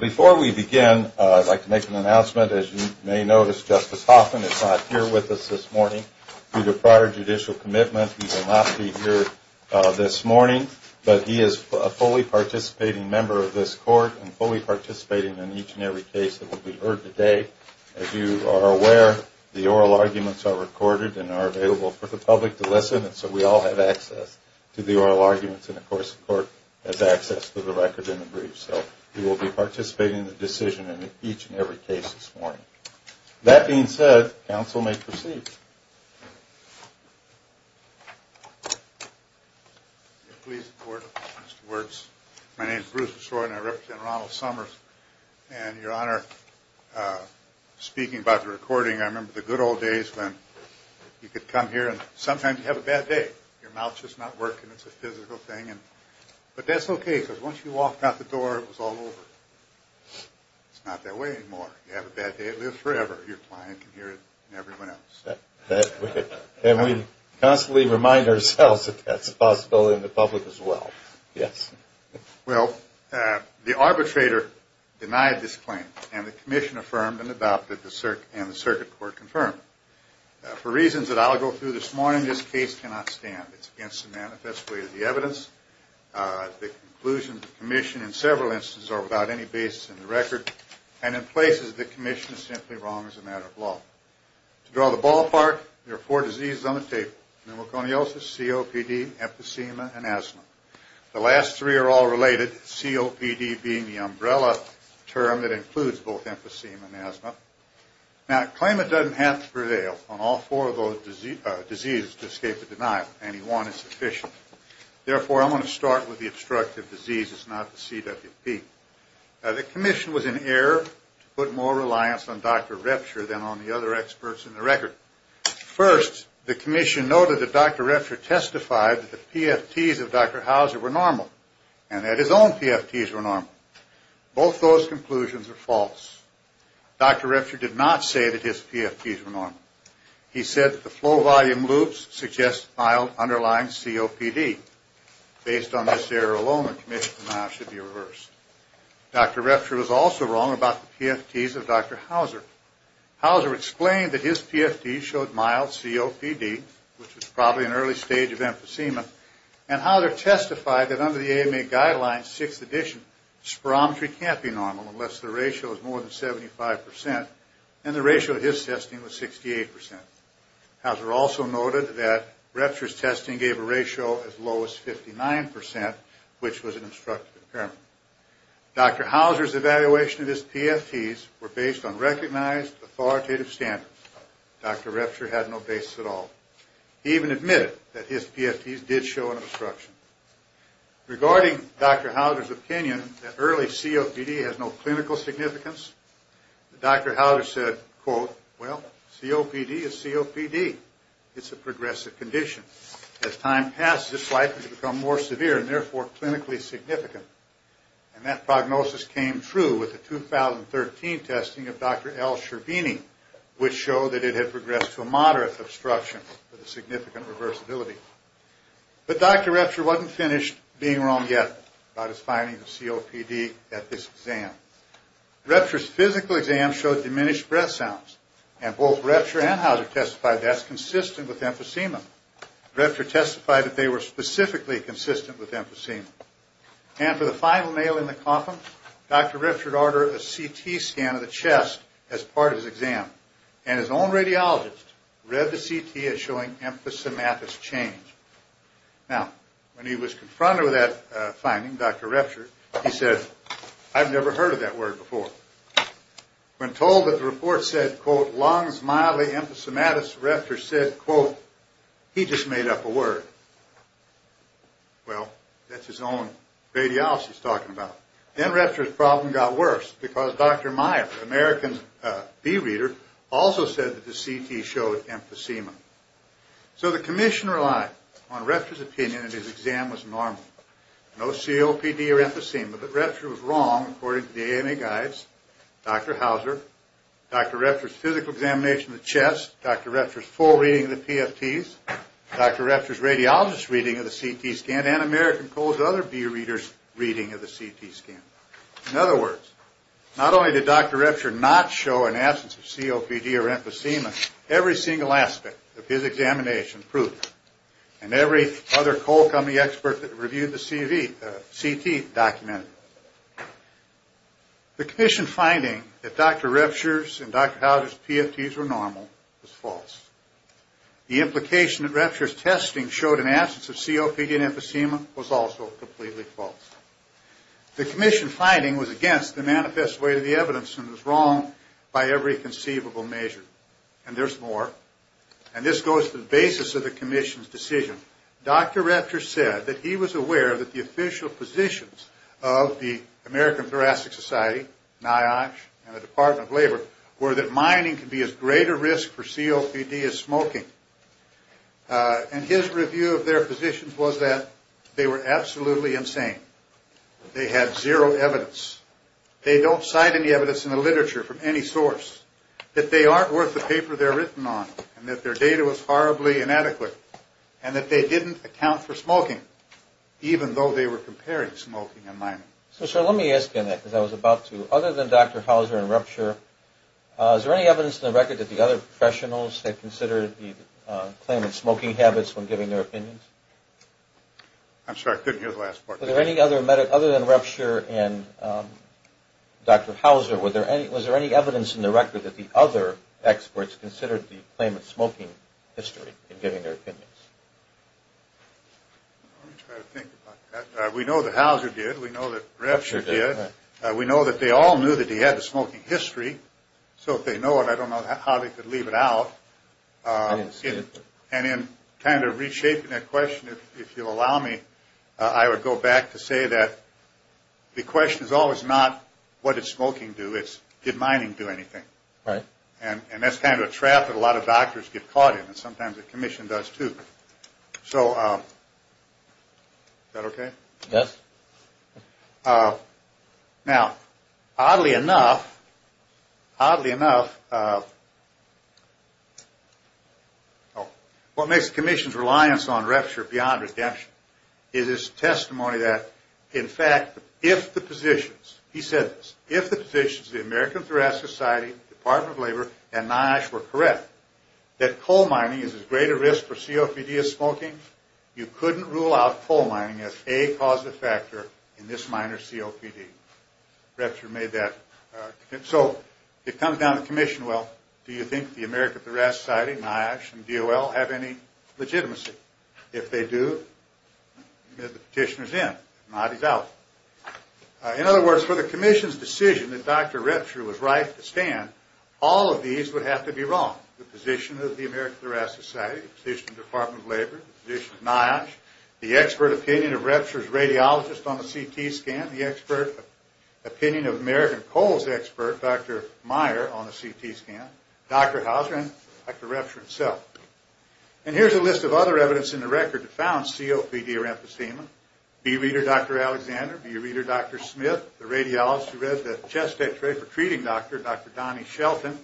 Before we begin, I'd like to make an announcement. As you may notice, Justice Hoffman is not here with us this morning due to prior judicial commitment. He will not be here this morning, but he is a fully participating member of this court and fully participating in each and every case that will be heard today. As you are aware, the oral arguments are recorded and are available for the public to listen, and so we all have access to the oral arguments, and of course the court has access to the record and the briefs. So he will be participating in the decision in each and every case this morning. That being said, counsel may proceed. Please support Mr. Wertz. My name is Bruce Beshore and I represent Ronald Summers, and Your Honor, speaking about the recording, I remember the good old days when you could come here and sometimes you'd have a bad day. Your mouth's just not working. It's a physical thing, but that's okay because once you walked out the door, it was all over. It's not that way anymore. You have a bad day. It lives forever. Your client can hear it and everyone else. And we constantly remind ourselves that that's a possibility in the public as well. Yes? Well, the arbitrator denied this claim, and the commission affirmed and adopted, and the circuit court confirmed it. For reasons that I'll go through this morning, this case cannot stand. It's against the manifest way of the evidence. The conclusions of the commission in several instances are without any basis in the record, and in places the commission is simply wrong as a matter of law. To draw the ballpark, there are four diseases on the table. Pneumoconiosis, COPD, emphysema, and asthma. The last three are all related, COPD being the umbrella term that includes both emphysema and asthma. Now, a claimant doesn't have to prevail on all four of those diseases to escape the denial. Anyone is sufficient. Therefore, I'm going to start with the obstructive disease. It's not the CWP. Now, the commission was in error to put more reliance on Dr. Repture than on the other experts in the record. First, the commission noted that Dr. Repture testified that the PFTs of Dr. Hauser were normal and that his own PFTs were normal. Both those conclusions are false. Dr. Repture did not say that his PFTs were normal. He said that the flow volume loops suggest mild underlying COPD. Based on this error alone, the commission's denial should be reversed. Dr. Repture was also wrong about the PFTs of Dr. Hauser. Hauser explained that his PFTs showed mild COPD, which was probably an early stage of emphysema, and Hauser testified that under the AMA guidelines, 6th edition, spirometry can't be normal unless the ratio is more than 75%, and the ratio of his testing was 68%. Hauser also noted that Repture's testing gave a ratio as low as 59%, which was an obstructive impairment. Dr. Hauser's evaluation of his PFTs were based on recognized authoritative standards. Dr. Repture had no basis at all. He even admitted that his PFTs did show an obstruction. Regarding Dr. Hauser's opinion that early COPD has no clinical significance, Dr. Hauser said, quote, well, COPD is COPD. It's a progressive condition. As time passes, it's likely to become more severe and therefore clinically significant, and that prognosis came true with the 2013 testing of Dr. L. Scherbini, which showed that it had progressed to a moderate obstruction with a significant reversibility. But Dr. Repture wasn't finished being wrong yet about his findings of COPD at this exam. Repture's physical exam showed diminished breath sounds, and both Repture and Hauser testified that's consistent with emphysema. Repture testified that they were specifically consistent with emphysema. And for the final nail in the coffin, Dr. Repture ordered a CT scan of the chest as part of his exam, and his own radiologist read the CT as showing emphysematous change. Now, when he was confronted with that finding, Dr. Repture, he said, I've never heard of that word before. When told that the report said, quote, lungs mildly emphysematous, Repture said, quote, he just made up a word. Well, that's his own radiologist talking about. Then Repture's problem got worse because Dr. Meyer, an American bee reader, also said that the CT showed emphysema. So the commission relied on Repture's opinion that his exam was normal. No COPD or emphysema, but Repture was wrong according to the AMA guides, Dr. Hauser, Dr. Repture's physical examination of the chest, Dr. Repture's full reading of the PFTs, Dr. Repture's radiologist's reading of the CT scan, and American Poll's other bee readers' reading of the CT scan. In other words, not only did Dr. Repture not show an absence of COPD or emphysema, every single aspect of his examination proved it, and every other coal company expert that reviewed the CT documented it. The commission finding that Dr. Repture's and Dr. Hauser's PFTs were normal was false. The implication that Repture's testing showed an absence of COPD and emphysema was also completely false. The commission finding was against the manifest way of the evidence and was wrong by every conceivable measure. And there's more. And this goes to the basis of the commission's decision. Dr. Repture said that he was aware that the official positions of the American Thoracic Society, NIOSH, and the Department of Labor were that mining could be as great a risk for COPD as smoking. And his review of their positions was that they were absolutely insane. They had zero evidence. They don't cite any evidence in the literature from any source, that they aren't worth the paper they're written on, and that their data was horribly inadequate, and that they didn't account for smoking, even though they were comparing smoking and mining. So, sir, let me ask you that, because I was about to. Other than Dr. Hauser and Repture, is there any evidence in the record that the other professionals had considered the claimant's smoking habits when giving their opinions? I'm sorry, I couldn't hear the last part. Other than Repture and Dr. Hauser, was there any evidence in the record that the other experts considered the claimant's smoking history in giving their opinions? Let me try to think about that. We know that Hauser did. We know that Repture did. We know that they all knew that he had a smoking history, so if they know it, I don't know how they could leave it out. I didn't see it. And in kind of reshaping that question, if you'll allow me, I would go back to say that the question is always not, what did smoking do? It's, did mining do anything? Right. And that's kind of a trap that a lot of doctors get caught in, and sometimes the Commission does too. So, is that okay? Yes. Now, oddly enough, oddly enough, what makes the Commission's reliance on Repture beyond redemption is its testimony that, in fact, if the positions, he said this, if the positions of the American Thoracic Society, Department of Labor, and NIOSH were correct, that coal mining is as great a risk for COPD as smoking, you couldn't rule out coal mining as a causative factor in this minor COPD. Repture made that. So, it comes down to the Commission, well, do you think the American Thoracic Society, NIOSH, and DOL have any legitimacy? If they do, the petitioner's in. If not, he's out. In other words, for the Commission's decision that Dr. Repture was right to stand, all of these would have to be wrong. The position of the American Thoracic Society, the position of the Department of Labor, the position of NIOSH, the expert opinion of Repture's radiologist on the CT scan, the expert opinion of American Coal's expert, Dr. Meyer, on the CT scan, Dr. Hauser, and Dr. Repture himself. And here's a list of other evidence in the record that found COPD or emphysema. Bee reader, Dr. Alexander. Bee reader, Dr. Smith. The radiologist who read the chest x-ray for treating doctor, Dr. Donnie Shelton.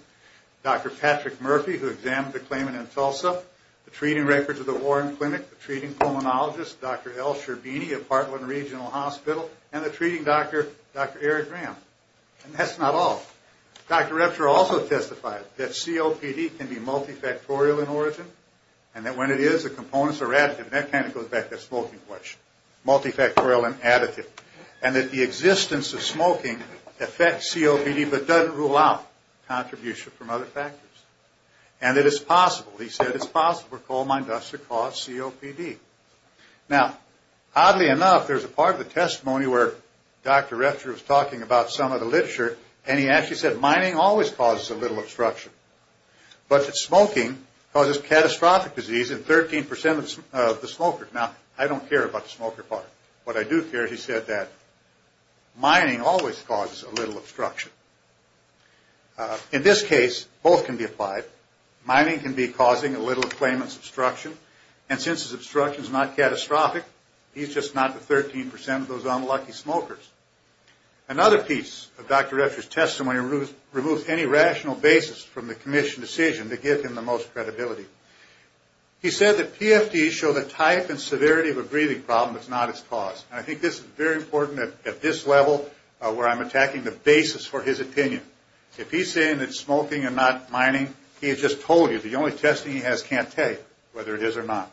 Dr. Patrick Murphy, who examined the claimant in Tulsa. The treating records of the Warren Clinic. The treating pulmonologist, Dr. L. Sherbini of Heartland Regional Hospital. And the treating doctor, Dr. Eric Graham. And that's not all. Dr. Repture also testified that COPD can be multifactorial in origin. And that when it is, the components are additive. And that kind of goes back to the smoking question. Multifactorial and additive. And that the existence of smoking affects COPD but doesn't rule out contribution from other factors. And that it's possible, he said it's possible for coal mine dust to cause COPD. Now, oddly enough, there's a part of the testimony where Dr. Repture was talking about some of the literature and he actually said mining always causes a little obstruction. But that smoking causes catastrophic disease in 13% of the smokers. Now, I don't care about the smoker part. What I do care, he said that mining always causes a little obstruction. In this case, both can be applied. Mining can be causing a little claimant's obstruction. And since his obstruction is not catastrophic, he's just not the 13% of those unlucky smokers. Another piece of Dr. Repture's testimony removes any rational basis from the commission decision to give him the most credibility. He said that PFDs show the type and severity of a breathing problem that's not its cause. And I think this is very important at this level where I'm attacking the basis for his opinion. If he's saying that smoking and not mining, he has just told you the only testing he has can't tell you whether it is or not.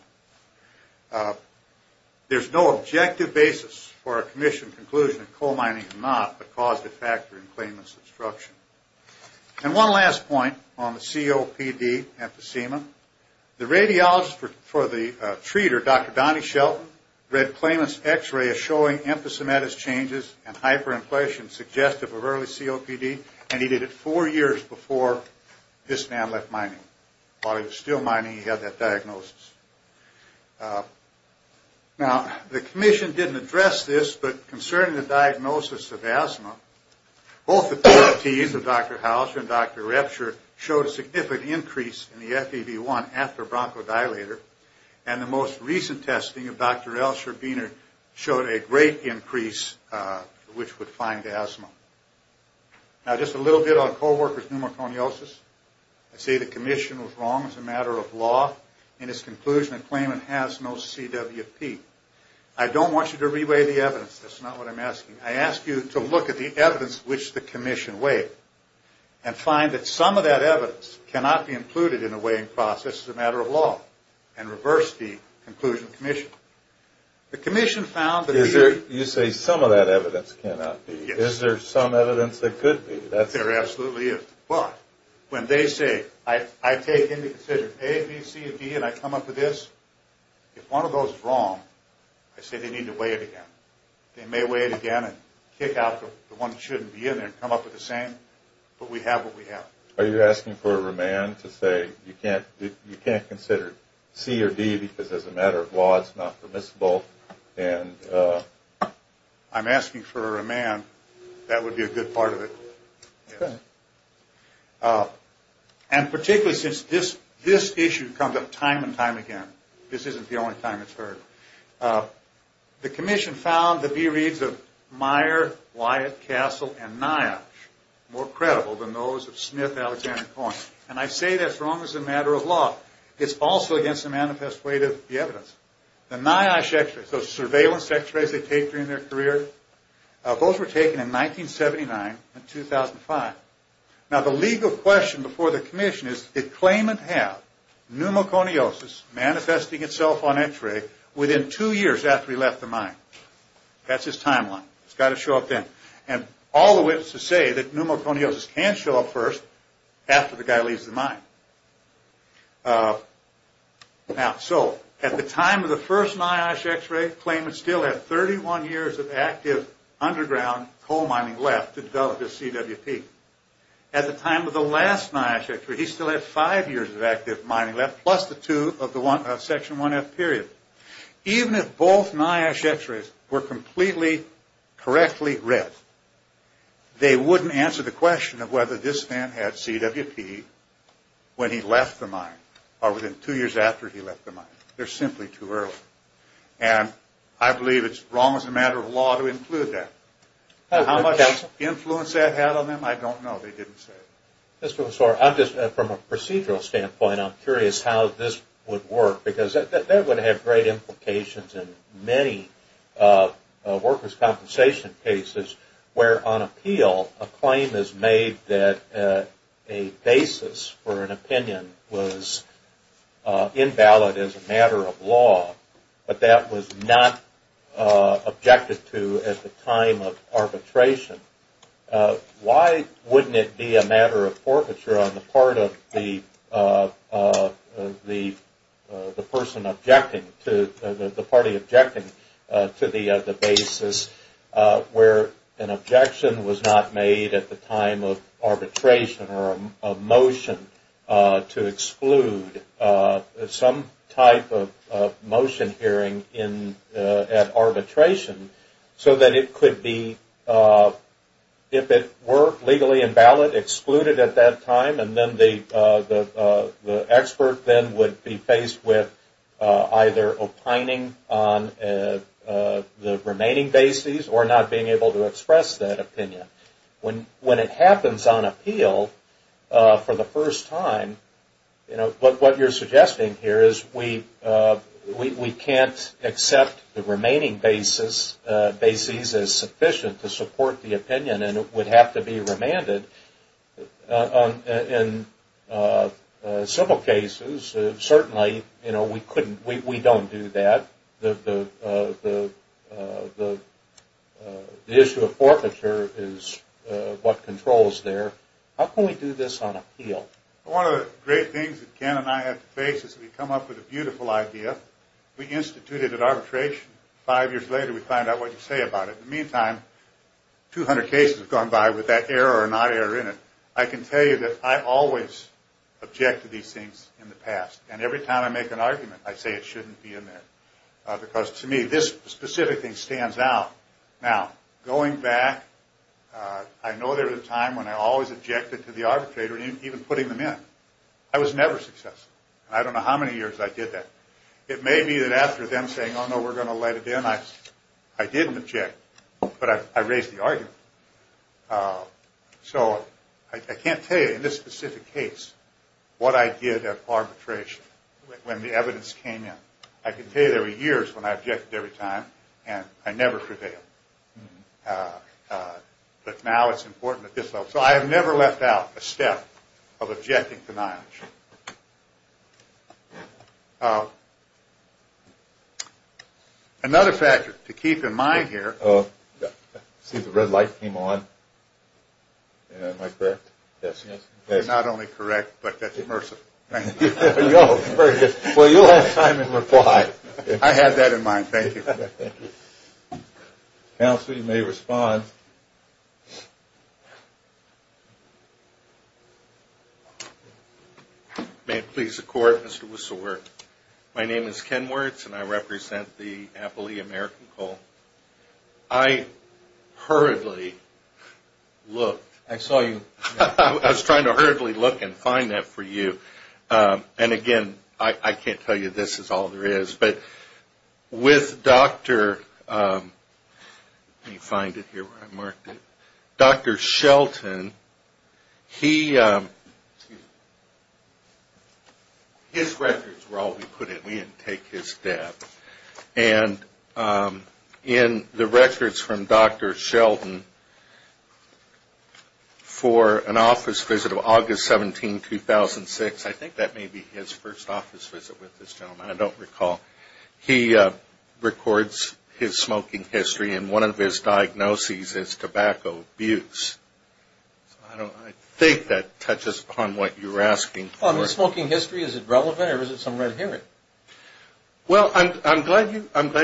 There's no objective basis for a commission conclusion that coal mining is not a causative factor in claimant's obstruction. And one last point on the COPD emphysema. The radiologist for the treater, Dr. Donnie Shelton, read claimant's x-ray as showing emphysematous changes and hyperinflation suggestive of early COPD, and he did it four years before this man left mining. While he was still mining, he had that diagnosis. Now, the commission didn't address this, but concerning the diagnosis of asthma, both authorities, Dr. Houser and Dr. Repture, showed a significant increase in the FEV1 after bronchodilator, and the most recent testing of Dr. Elsher-Biener showed a great increase which would find asthma. Now, just a little bit on co-worker's pneumoconiosis. I say the commission was wrong as a matter of law in its conclusion that claimant has no CWP. I don't want you to re-weigh the evidence. That's not what I'm asking. I ask you to look at the evidence which the commission weighed and find that some of that evidence cannot be included in the weighing process as a matter of law and reverse the conclusion of the commission. The commission found that... You say some of that evidence cannot be. Is there some evidence that could be? There absolutely is. But when they say I take into consideration A, B, C, and D and I come up with this, if one of those is wrong, I say they need to weigh it again. They may weigh it again and kick out the one that shouldn't be in there and come up with the same, but we have what we have. Are you asking for a remand to say you can't consider C or D because as a matter of law it's not permissible? I'm asking for a remand. That would be a good part of it. Okay. And particularly since this issue comes up time and time again, this isn't the only time it's heard. The commission found the reads of Meyer, Wyatt, Castle, and Nyash more credible than those of Smith, Alexander, and Coyne. And I say that's wrong as a matter of law. It's also against the manifest weight of the evidence. The Nyash x-rays, those surveillance x-rays they take during their career, those were taken in 1979 and 2005. Now, the legal question before the commission is did Clayman have pneumoconiosis manifesting itself on x-ray within two years after he left the mine? That's his timeline. It's got to show up then. And all the witnesses say that pneumoconiosis can show up first after the guy leaves the mine. Now, so at the time of the first Nyash x-ray, Clayman still had 31 years of active underground coal mining left to develop his CWP. At the time of the last Nyash x-ray, he still had five years of active mining left plus the two of the section 1F period. Even if both Nyash x-rays were completely correctly read, they wouldn't answer the question of whether this man had CWP when he left the mine or within two years after he left the mine. They're simply too early. And I believe it's wrong as a matter of law to include that. How much influence that had on them, I don't know. They didn't say. Mr. Messore, from a procedural standpoint, I'm curious how this would work because that would have great implications in many workers' compensation cases where on appeal a claim is made that a basis for an opinion was invalid as a matter of law, but that was not objected to at the time of arbitration. Why wouldn't it be a matter of forfeiture on the part of the party objecting to the basis where an objection was not made at the time of arbitration or a motion to exclude some type of motion hearing at arbitration so that it could be, if it were legally invalid, excluded at that time and then the expert then would be faced with either opining on the remaining basis or not being able to express that opinion. When it happens on appeal for the first time, what you're suggesting here is we can't accept the remaining basis as sufficient to support the opinion and it would have to be remanded. In civil cases, certainly we don't do that. The issue of forfeiture is what controls there. How can we do this on appeal? One of the great things that Ken and I have to face is we come up with a beautiful idea. We institute it at arbitration. Five years later, we find out what you say about it. In the meantime, 200 cases have gone by with that error or not error in it. I can tell you that I always object to these things in the past and every time I make an argument, I say it shouldn't be in there because to me, this specific thing stands out. Now, going back, I know there was a time when I always objected to the arbitrator even putting them in. I was never successful. I don't know how many years I did that. It may be that after them saying, oh, no, we're going to let it in, I didn't object, but I raised the argument. So I can't tell you in this specific case what I did at arbitration when the evidence came in. I can tell you there were years when I objected every time and I never prevailed. But now it's important at this level. So I have never left out a step of objecting to knowledge. Another factor to keep in mind here. See, the red light came on. Am I correct? Yes, yes. You're not only correct, but that's immersive. Thank you. Well, you'll have time in reply. I had that in mind. Thank you. Counsel, you may respond. May it please the Court, Mr. Wusserwerth. My name is Ken Wertz and I represent the Appalachian American Coal. I hurriedly looked. I saw you. I was trying to hurriedly look and find that for you. And, again, I can't tell you this is all there is. But with Dr. Let me find it here where I marked it. Dr. Shelton, his records were all we put in. We didn't take his debt. And in the records from Dr. Shelton for an office visit of August 17, 2006, I think that may be his first office visit with this gentleman. I don't recall. He records his smoking history and one of his diagnoses is tobacco abuse. I think that touches upon what you were asking for. His smoking history, is it relevant or is it somewhere inherent? Well, I'm glad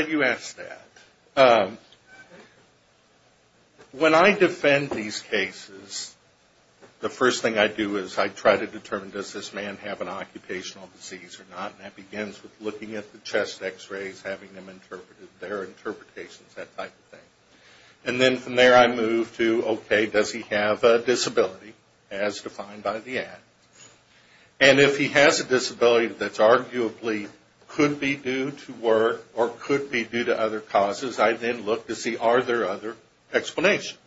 you asked that. When I defend these cases, the first thing I do is I try to determine, does this man have an occupational disease or not? And that begins with looking at the chest X-rays, having them interpreted, their interpretations, that type of thing. And then from there I move to, okay, does he have a disability as defined by the act? And if he has a disability that's arguably could be due to work or could be due to other causes, I then look to see, are there other explanations?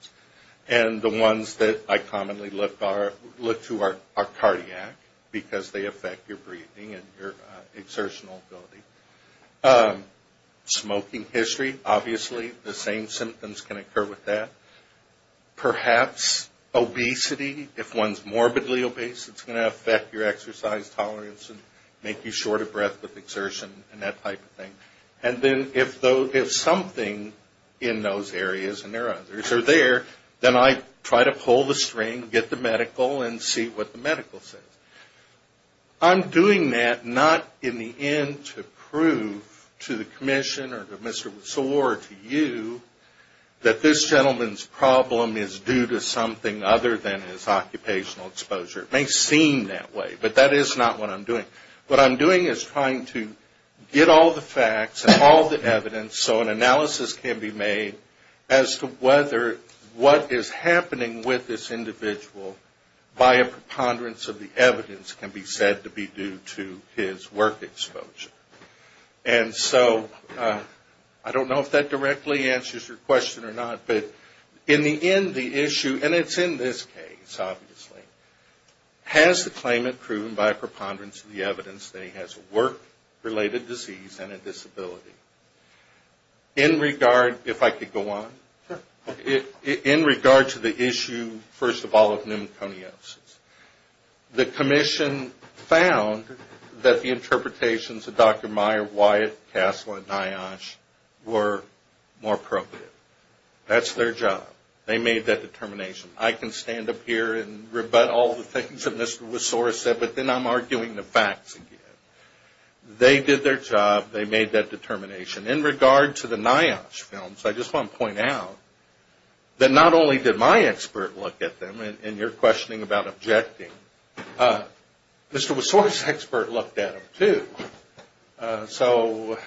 And the ones that I commonly look to are cardiac, because they affect your breathing and your exertional ability. Smoking history, obviously, the same symptoms can occur with that. Perhaps obesity, if one's morbidly obese, it's going to affect your exercise tolerance and make you short of breath with exertion and that type of thing. And then if something in those areas and there are others are there, then I try to pull the string, get the medical, and see what the medical says. I'm doing that not in the end to prove to the commission or to Mr. Seward or to you that this gentleman's problem is due to something other than his occupational exposure. It may seem that way, but that is not what I'm doing. What I'm doing is trying to get all the facts and all the evidence so an analysis can be made as to whether what is happening with this individual by a preponderance of the evidence can be said to be due to his work exposure. And so I don't know if that directly answers your question or not, but in the end the issue, and it's in this case, obviously, has the claimant proven by a preponderance of the evidence that he has a work-related disease and a disability? In regard, if I could go on, in regard to the issue, first of all, of pneumoconiosis, the commission found that the interpretations of Dr. Meyer, Wyatt, Kassler, and Niash were more appropriate. That's their job. They made that determination. I can stand up here and rebut all the things that Mr. Wisora said, but then I'm arguing the facts again. They did their job. They made that determination. In regard to the Niash films, I just want to point out that not only did my expert look at them, and you're questioning about objecting, Mr. Wisora's expert looked at them too. So,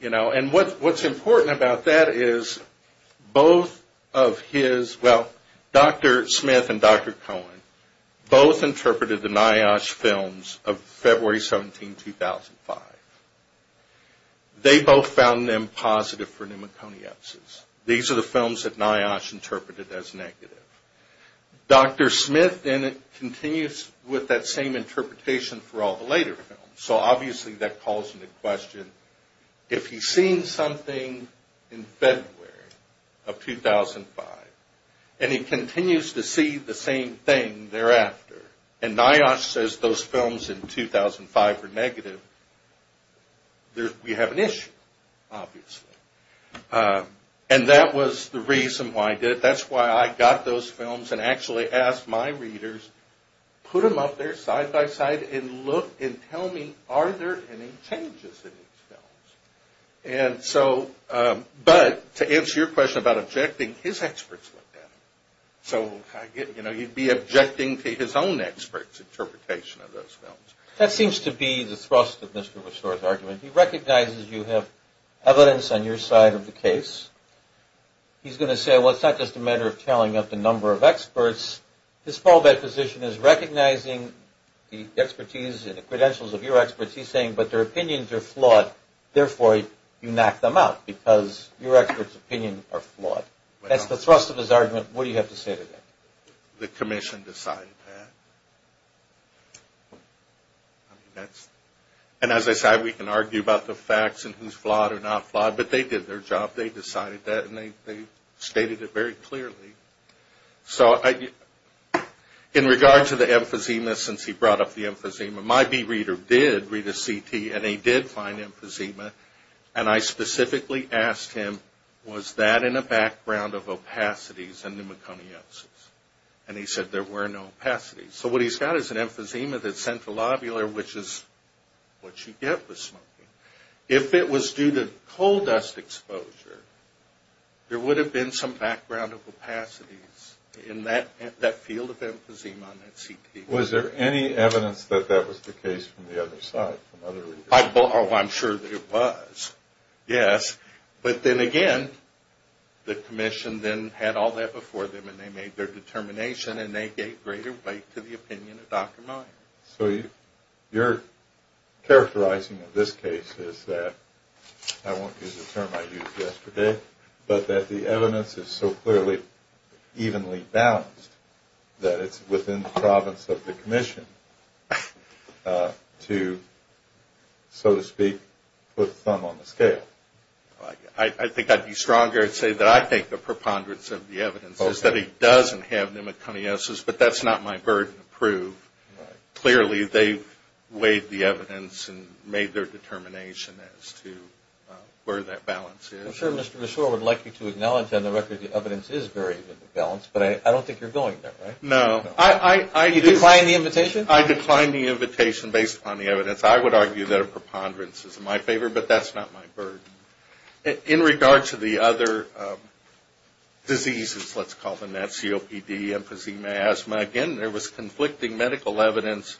you know, and what's important about that is both of his, well, Dr. Smith and Dr. Cohen, both interpreted the Niash films of February 17, 2005. They both found them positive for pneumoconiosis. These are the films that Niash interpreted as negative. Dr. Smith then continues with that same interpretation for all the later films. So, obviously, that calls into question if he's seen something in February of 2005 and he continues to see the same thing thereafter. And Niash says those films in 2005 were negative. We have an issue, obviously. And that was the reason why I did it. That's why I got those films and actually asked my readers, put them up there side-by-side and look and tell me, are there any changes in these films? But to answer your question about objecting, his experts looked at them. So, you know, you'd be objecting to his own experts' interpretation of those films. That seems to be the thrust of Mr. Wisora's argument. He recognizes you have evidence on your side of the case. He's going to say, well, it's not just a matter of telling up the number of experts. His fallback position is recognizing the expertise and the credentials of your experts. He's saying, but their opinions are flawed. Therefore, you knock them out because your experts' opinions are flawed. That's the thrust of his argument. What do you have to say to that? The commission decided that. And as I said, we can argue about the facts and who's flawed or not flawed. But they did their job. They decided that and they stated it very clearly. So in regard to the emphysema, since he brought up the emphysema, my bee reader did read a CT and he did find emphysema. And I specifically asked him, was that in a background of opacities and pneumoconiosis? And he said there were no opacities. So what he's got is an emphysema that's central lobular, which is what you get with smoking. If it was due to coal dust exposure, there would have been some background of opacities in that field of emphysema on that CT. Was there any evidence that that was the case from the other side, from other readers? I'm sure there was, yes. But then again, the commission then had all that before them and they made their determination and they gave greater weight to the opinion of Dr. Meyer. So you're characterizing in this case is that, I won't use the term I used yesterday, but that the evidence is so clearly evenly balanced that it's within the province of the commission to, so to speak, put the thumb on the scale. I think I'd be stronger and say that I think the preponderance of the evidence is that he doesn't have pneumoconiosis, but that's not my burden to prove. Clearly, they weighed the evidence and made their determination as to where that balance is. I'm sure Mr. Reshore would like you to acknowledge on the record the evidence is very evenly balanced, but I don't think you're going there, right? No. You declined the invitation? I declined the invitation based upon the evidence. I would argue that a preponderance is in my favor, but that's not my burden. In regards to the other diseases, let's call them that, COPD, emphysema, asthma, again, there was conflicting medical evidence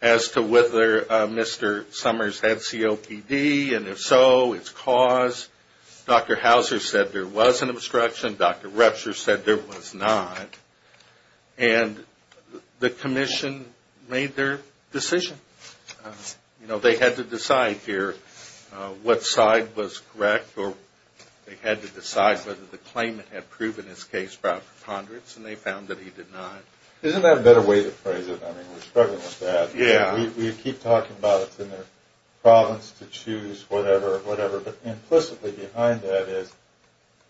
as to whether Mr. Summers had COPD, and if so, its cause. Dr. Hauser said there was an obstruction. Dr. Retscher said there was not. And the commission made their decision. You know, they had to decide here what side was correct, or they had to decide whether the claimant had proven his case about preponderance, and they found that he did not. Isn't that a better way to phrase it? I mean, we're struggling with that. Yeah. We keep talking about it's in their province to choose whatever, but implicitly behind that is,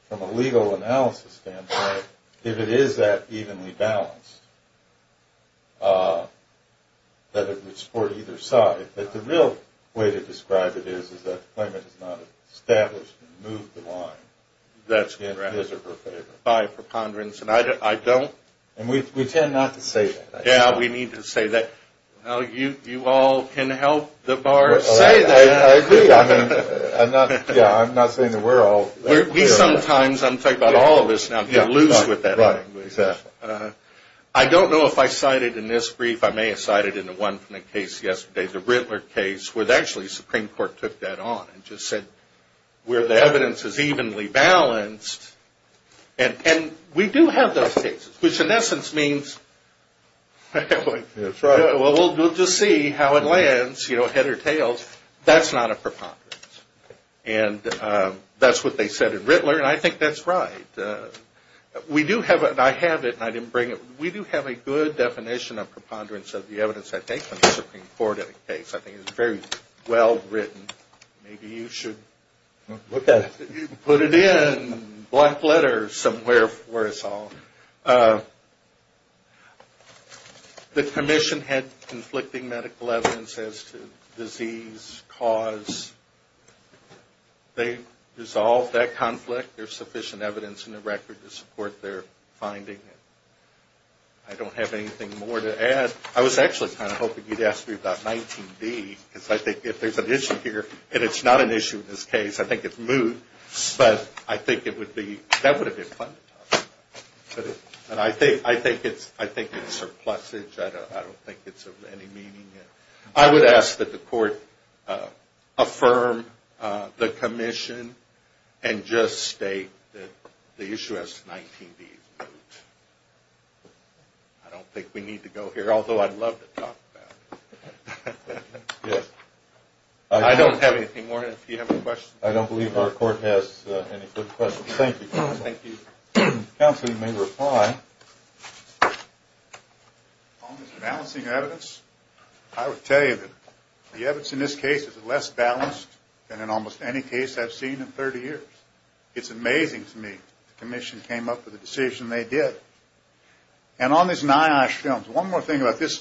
from a legal analysis standpoint, if it is that evenly balanced, that it would support either side, that the real way to describe it is that the claimant has not established and moved the line. That's correct. His or her favor. By preponderance, and I don't. And we tend not to say that. Yeah, we need to say that. You all can help the bar say that. I agree. I'm not saying that we're all. We sometimes, I'm talking about all of us now, get loose with that language. I don't know if I cited in this brief, I may have cited in the one from the case yesterday, the Rittler case, where actually the Supreme Court took that on and just said where the evidence is evenly balanced. And we do have those cases, which in essence means. That's right. Well, we'll just see how it lands, you know, head or tails. That's not a preponderance. And that's what they said in Rittler, and I think that's right. We do have, and I have it, and I didn't bring it. We do have a good definition of preponderance of the evidence, I think, in the Supreme Court of the case. I think it's very well written. Maybe you should put it in black letters somewhere for us all. The commission had conflicting medical evidence as to disease, cause. They resolved that conflict. There's sufficient evidence in the record to support their finding. I don't have anything more to add. I was actually kind of hoping you'd ask me about 19B, because I think if there's an issue here, and it's not an issue in this case, I think it's moot, but I think it would be, that would have been fun to talk about. And I think it's surplusage. I don't think it's of any meaning. I would ask that the court affirm the commission and just state that the issue as to 19B is moot. I don't think we need to go here, although I'd love to talk about it. Yes. I don't have anything more. If you have any questions. I don't believe our court has any further questions. Thank you, counsel. Thank you. Counsel, you may reply. On this balancing evidence, I would tell you that the evidence in this case is less balanced than in almost any case I've seen in 30 years. It's amazing to me the commission came up with a decision they did. And on these NIOSH films, one more thing about this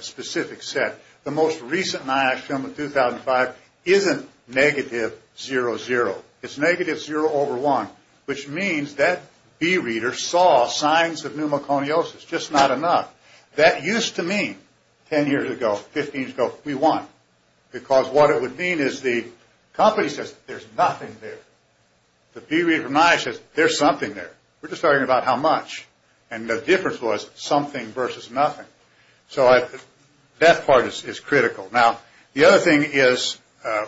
specific set. The most recent NIOSH film of 2005 isn't negative zero, zero. It's negative zero over one, which means that B reader saw signs of pneumoconiosis, just not enough. That used to mean 10 years ago, 15 years ago, we won, because what it would mean is the company says there's nothing there. The B reader from NIOSH says there's something there. We're just talking about how much. And the difference was something versus nothing. So that part is critical. Now, the other thing is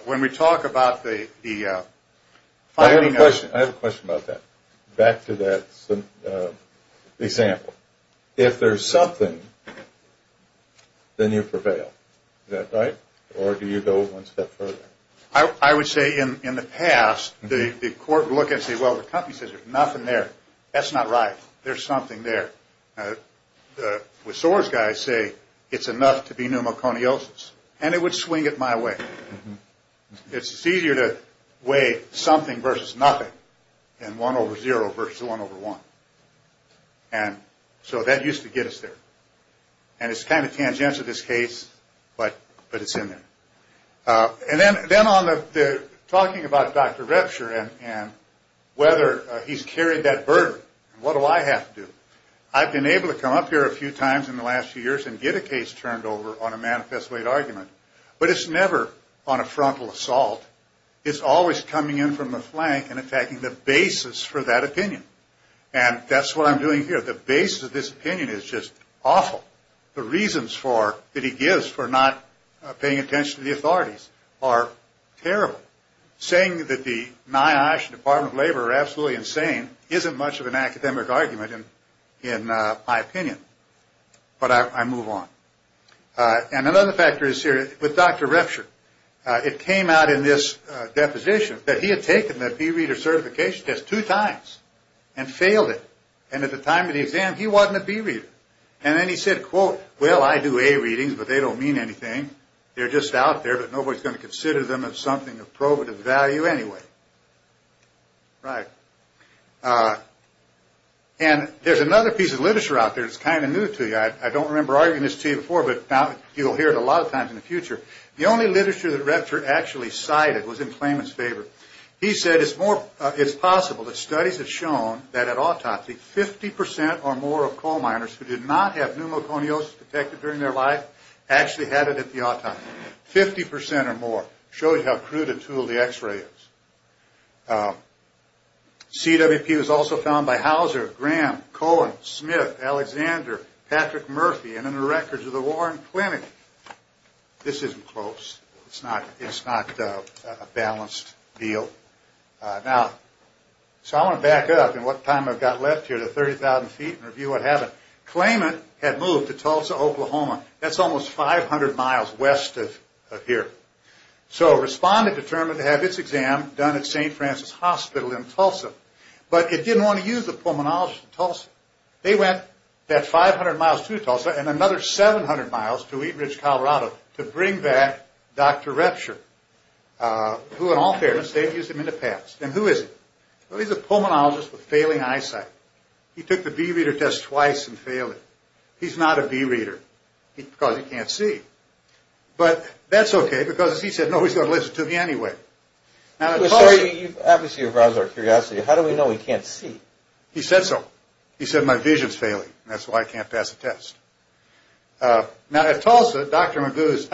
when we talk about the finding of. I have a question about that. Back to that example. If there's something, then you prevail. Is that right? Or do you go one step further? I would say in the past, the court would look and say, well, the company says there's nothing there. That's not right. There's something there. The SOARS guys say it's enough to be pneumoconiosis. And it would swing it my way. It's easier to weigh something versus nothing than one over zero versus one over one. And so that used to get us there. And it's kind of tangential, this case, but it's in there. And then on the talking about Dr. Repture and whether he's carried that burden. What do I have to do? I've been able to come up here a few times in the last few years and get a case turned over on a manifest weight argument. But it's never on a frontal assault. It's always coming in from the flank and attacking the basis for that opinion. And that's what I'm doing here. The basis of this opinion is just awful. The reasons that he gives for not paying attention to the authorities are terrible. Saying that the NIOSH and Department of Labor are absolutely insane isn't much of an academic argument in my opinion. But I move on. And another factor is here with Dr. Repture. It came out in this deposition that he had taken the B Reader certification test two times and failed it. And at the time of the exam, he wasn't a B Reader. And then he said, quote, well, I do A readings, but they don't mean anything. They're just out there, but nobody's going to consider them as something of probative value anyway. Right. And there's another piece of literature out there that's kind of new to you. I don't remember arguing this to you before, but you'll hear it a lot of times in the future. The only literature that Repture actually cited was in claimant's favor. He said it's possible that studies have shown that at autopsy, 50% or more of coal miners who did not have pneumoconiosis detected during their life actually had it at the autopsy. 50% or more. Shows you how crude a tool the x-ray is. CWP was also found by Hauser, Graham, Cohen, Smith, Alexander, Patrick Murphy, and in the records of the Warren Clinic. This isn't close. It's not a balanced deal. Now, so I want to back up in what time I've got left here to 30,000 feet and review what happened. Claimant had moved to Tulsa, Oklahoma. That's almost 500 miles west of here. So respondent determined to have its exam done at St. Francis Hospital in Tulsa. But it didn't want to use the pulmonologist in Tulsa. They went that 500 miles to Tulsa and another 700 miles to Eaton Ridge, Colorado, to bring back Dr. Repture, who in all fairness, they had used him in the past. And who is he? Well, he's a pulmonologist with failing eyesight. He took the B-reader test twice and failed it. He's not a B-reader because he can't see. But that's okay because he said, no, he's going to listen to me anyway. Now, I'm sorry, you've obviously aroused our curiosity. How do we know he can't see? He said so. He said, my vision is failing. That's why I can't pass the test. Now, at Tulsa, Dr. Repture's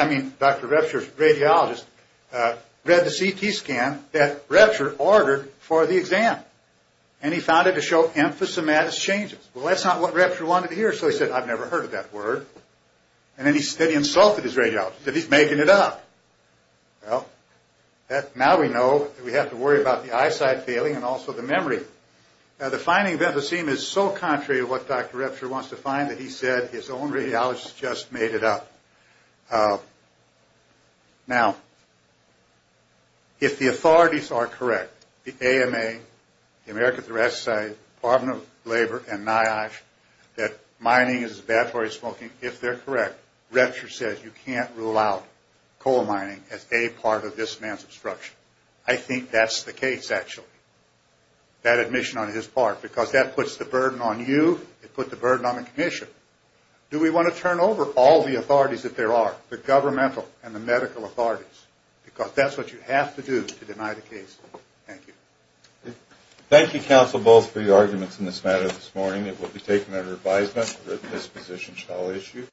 radiologist read the CT scan that Repture ordered for the exam. And he found it to show emphysematous changes. Well, that's not what Repture wanted to hear. So he said, I've never heard of that word. And then he insulted his radiologist. He said, he's making it up. Well, now we know that we have to worry about the eyesight failing and also the memory. Now, the finding of emphysema is so contrary to what Dr. Repture wants to find that he said his own radiologist just made it up. Now, if the authorities are correct, the AMA, the American Thoracic Society, Department of Labor, and NIOSH, that mining is a bad place for smoking, if they're correct, Repture says you can't rule out coal mining as a part of this man's obstruction. I think that's the case, actually, that admission on his part. Because that puts the burden on you. It puts the burden on the commission. Do we want to turn over all the authorities that there are, the governmental and the medical authorities? Because that's what you have to do to deny the case. Thank you. Thank you, Counsel Bowles, for your arguments in this matter this morning. It will be taken under advisement that this position shall issue.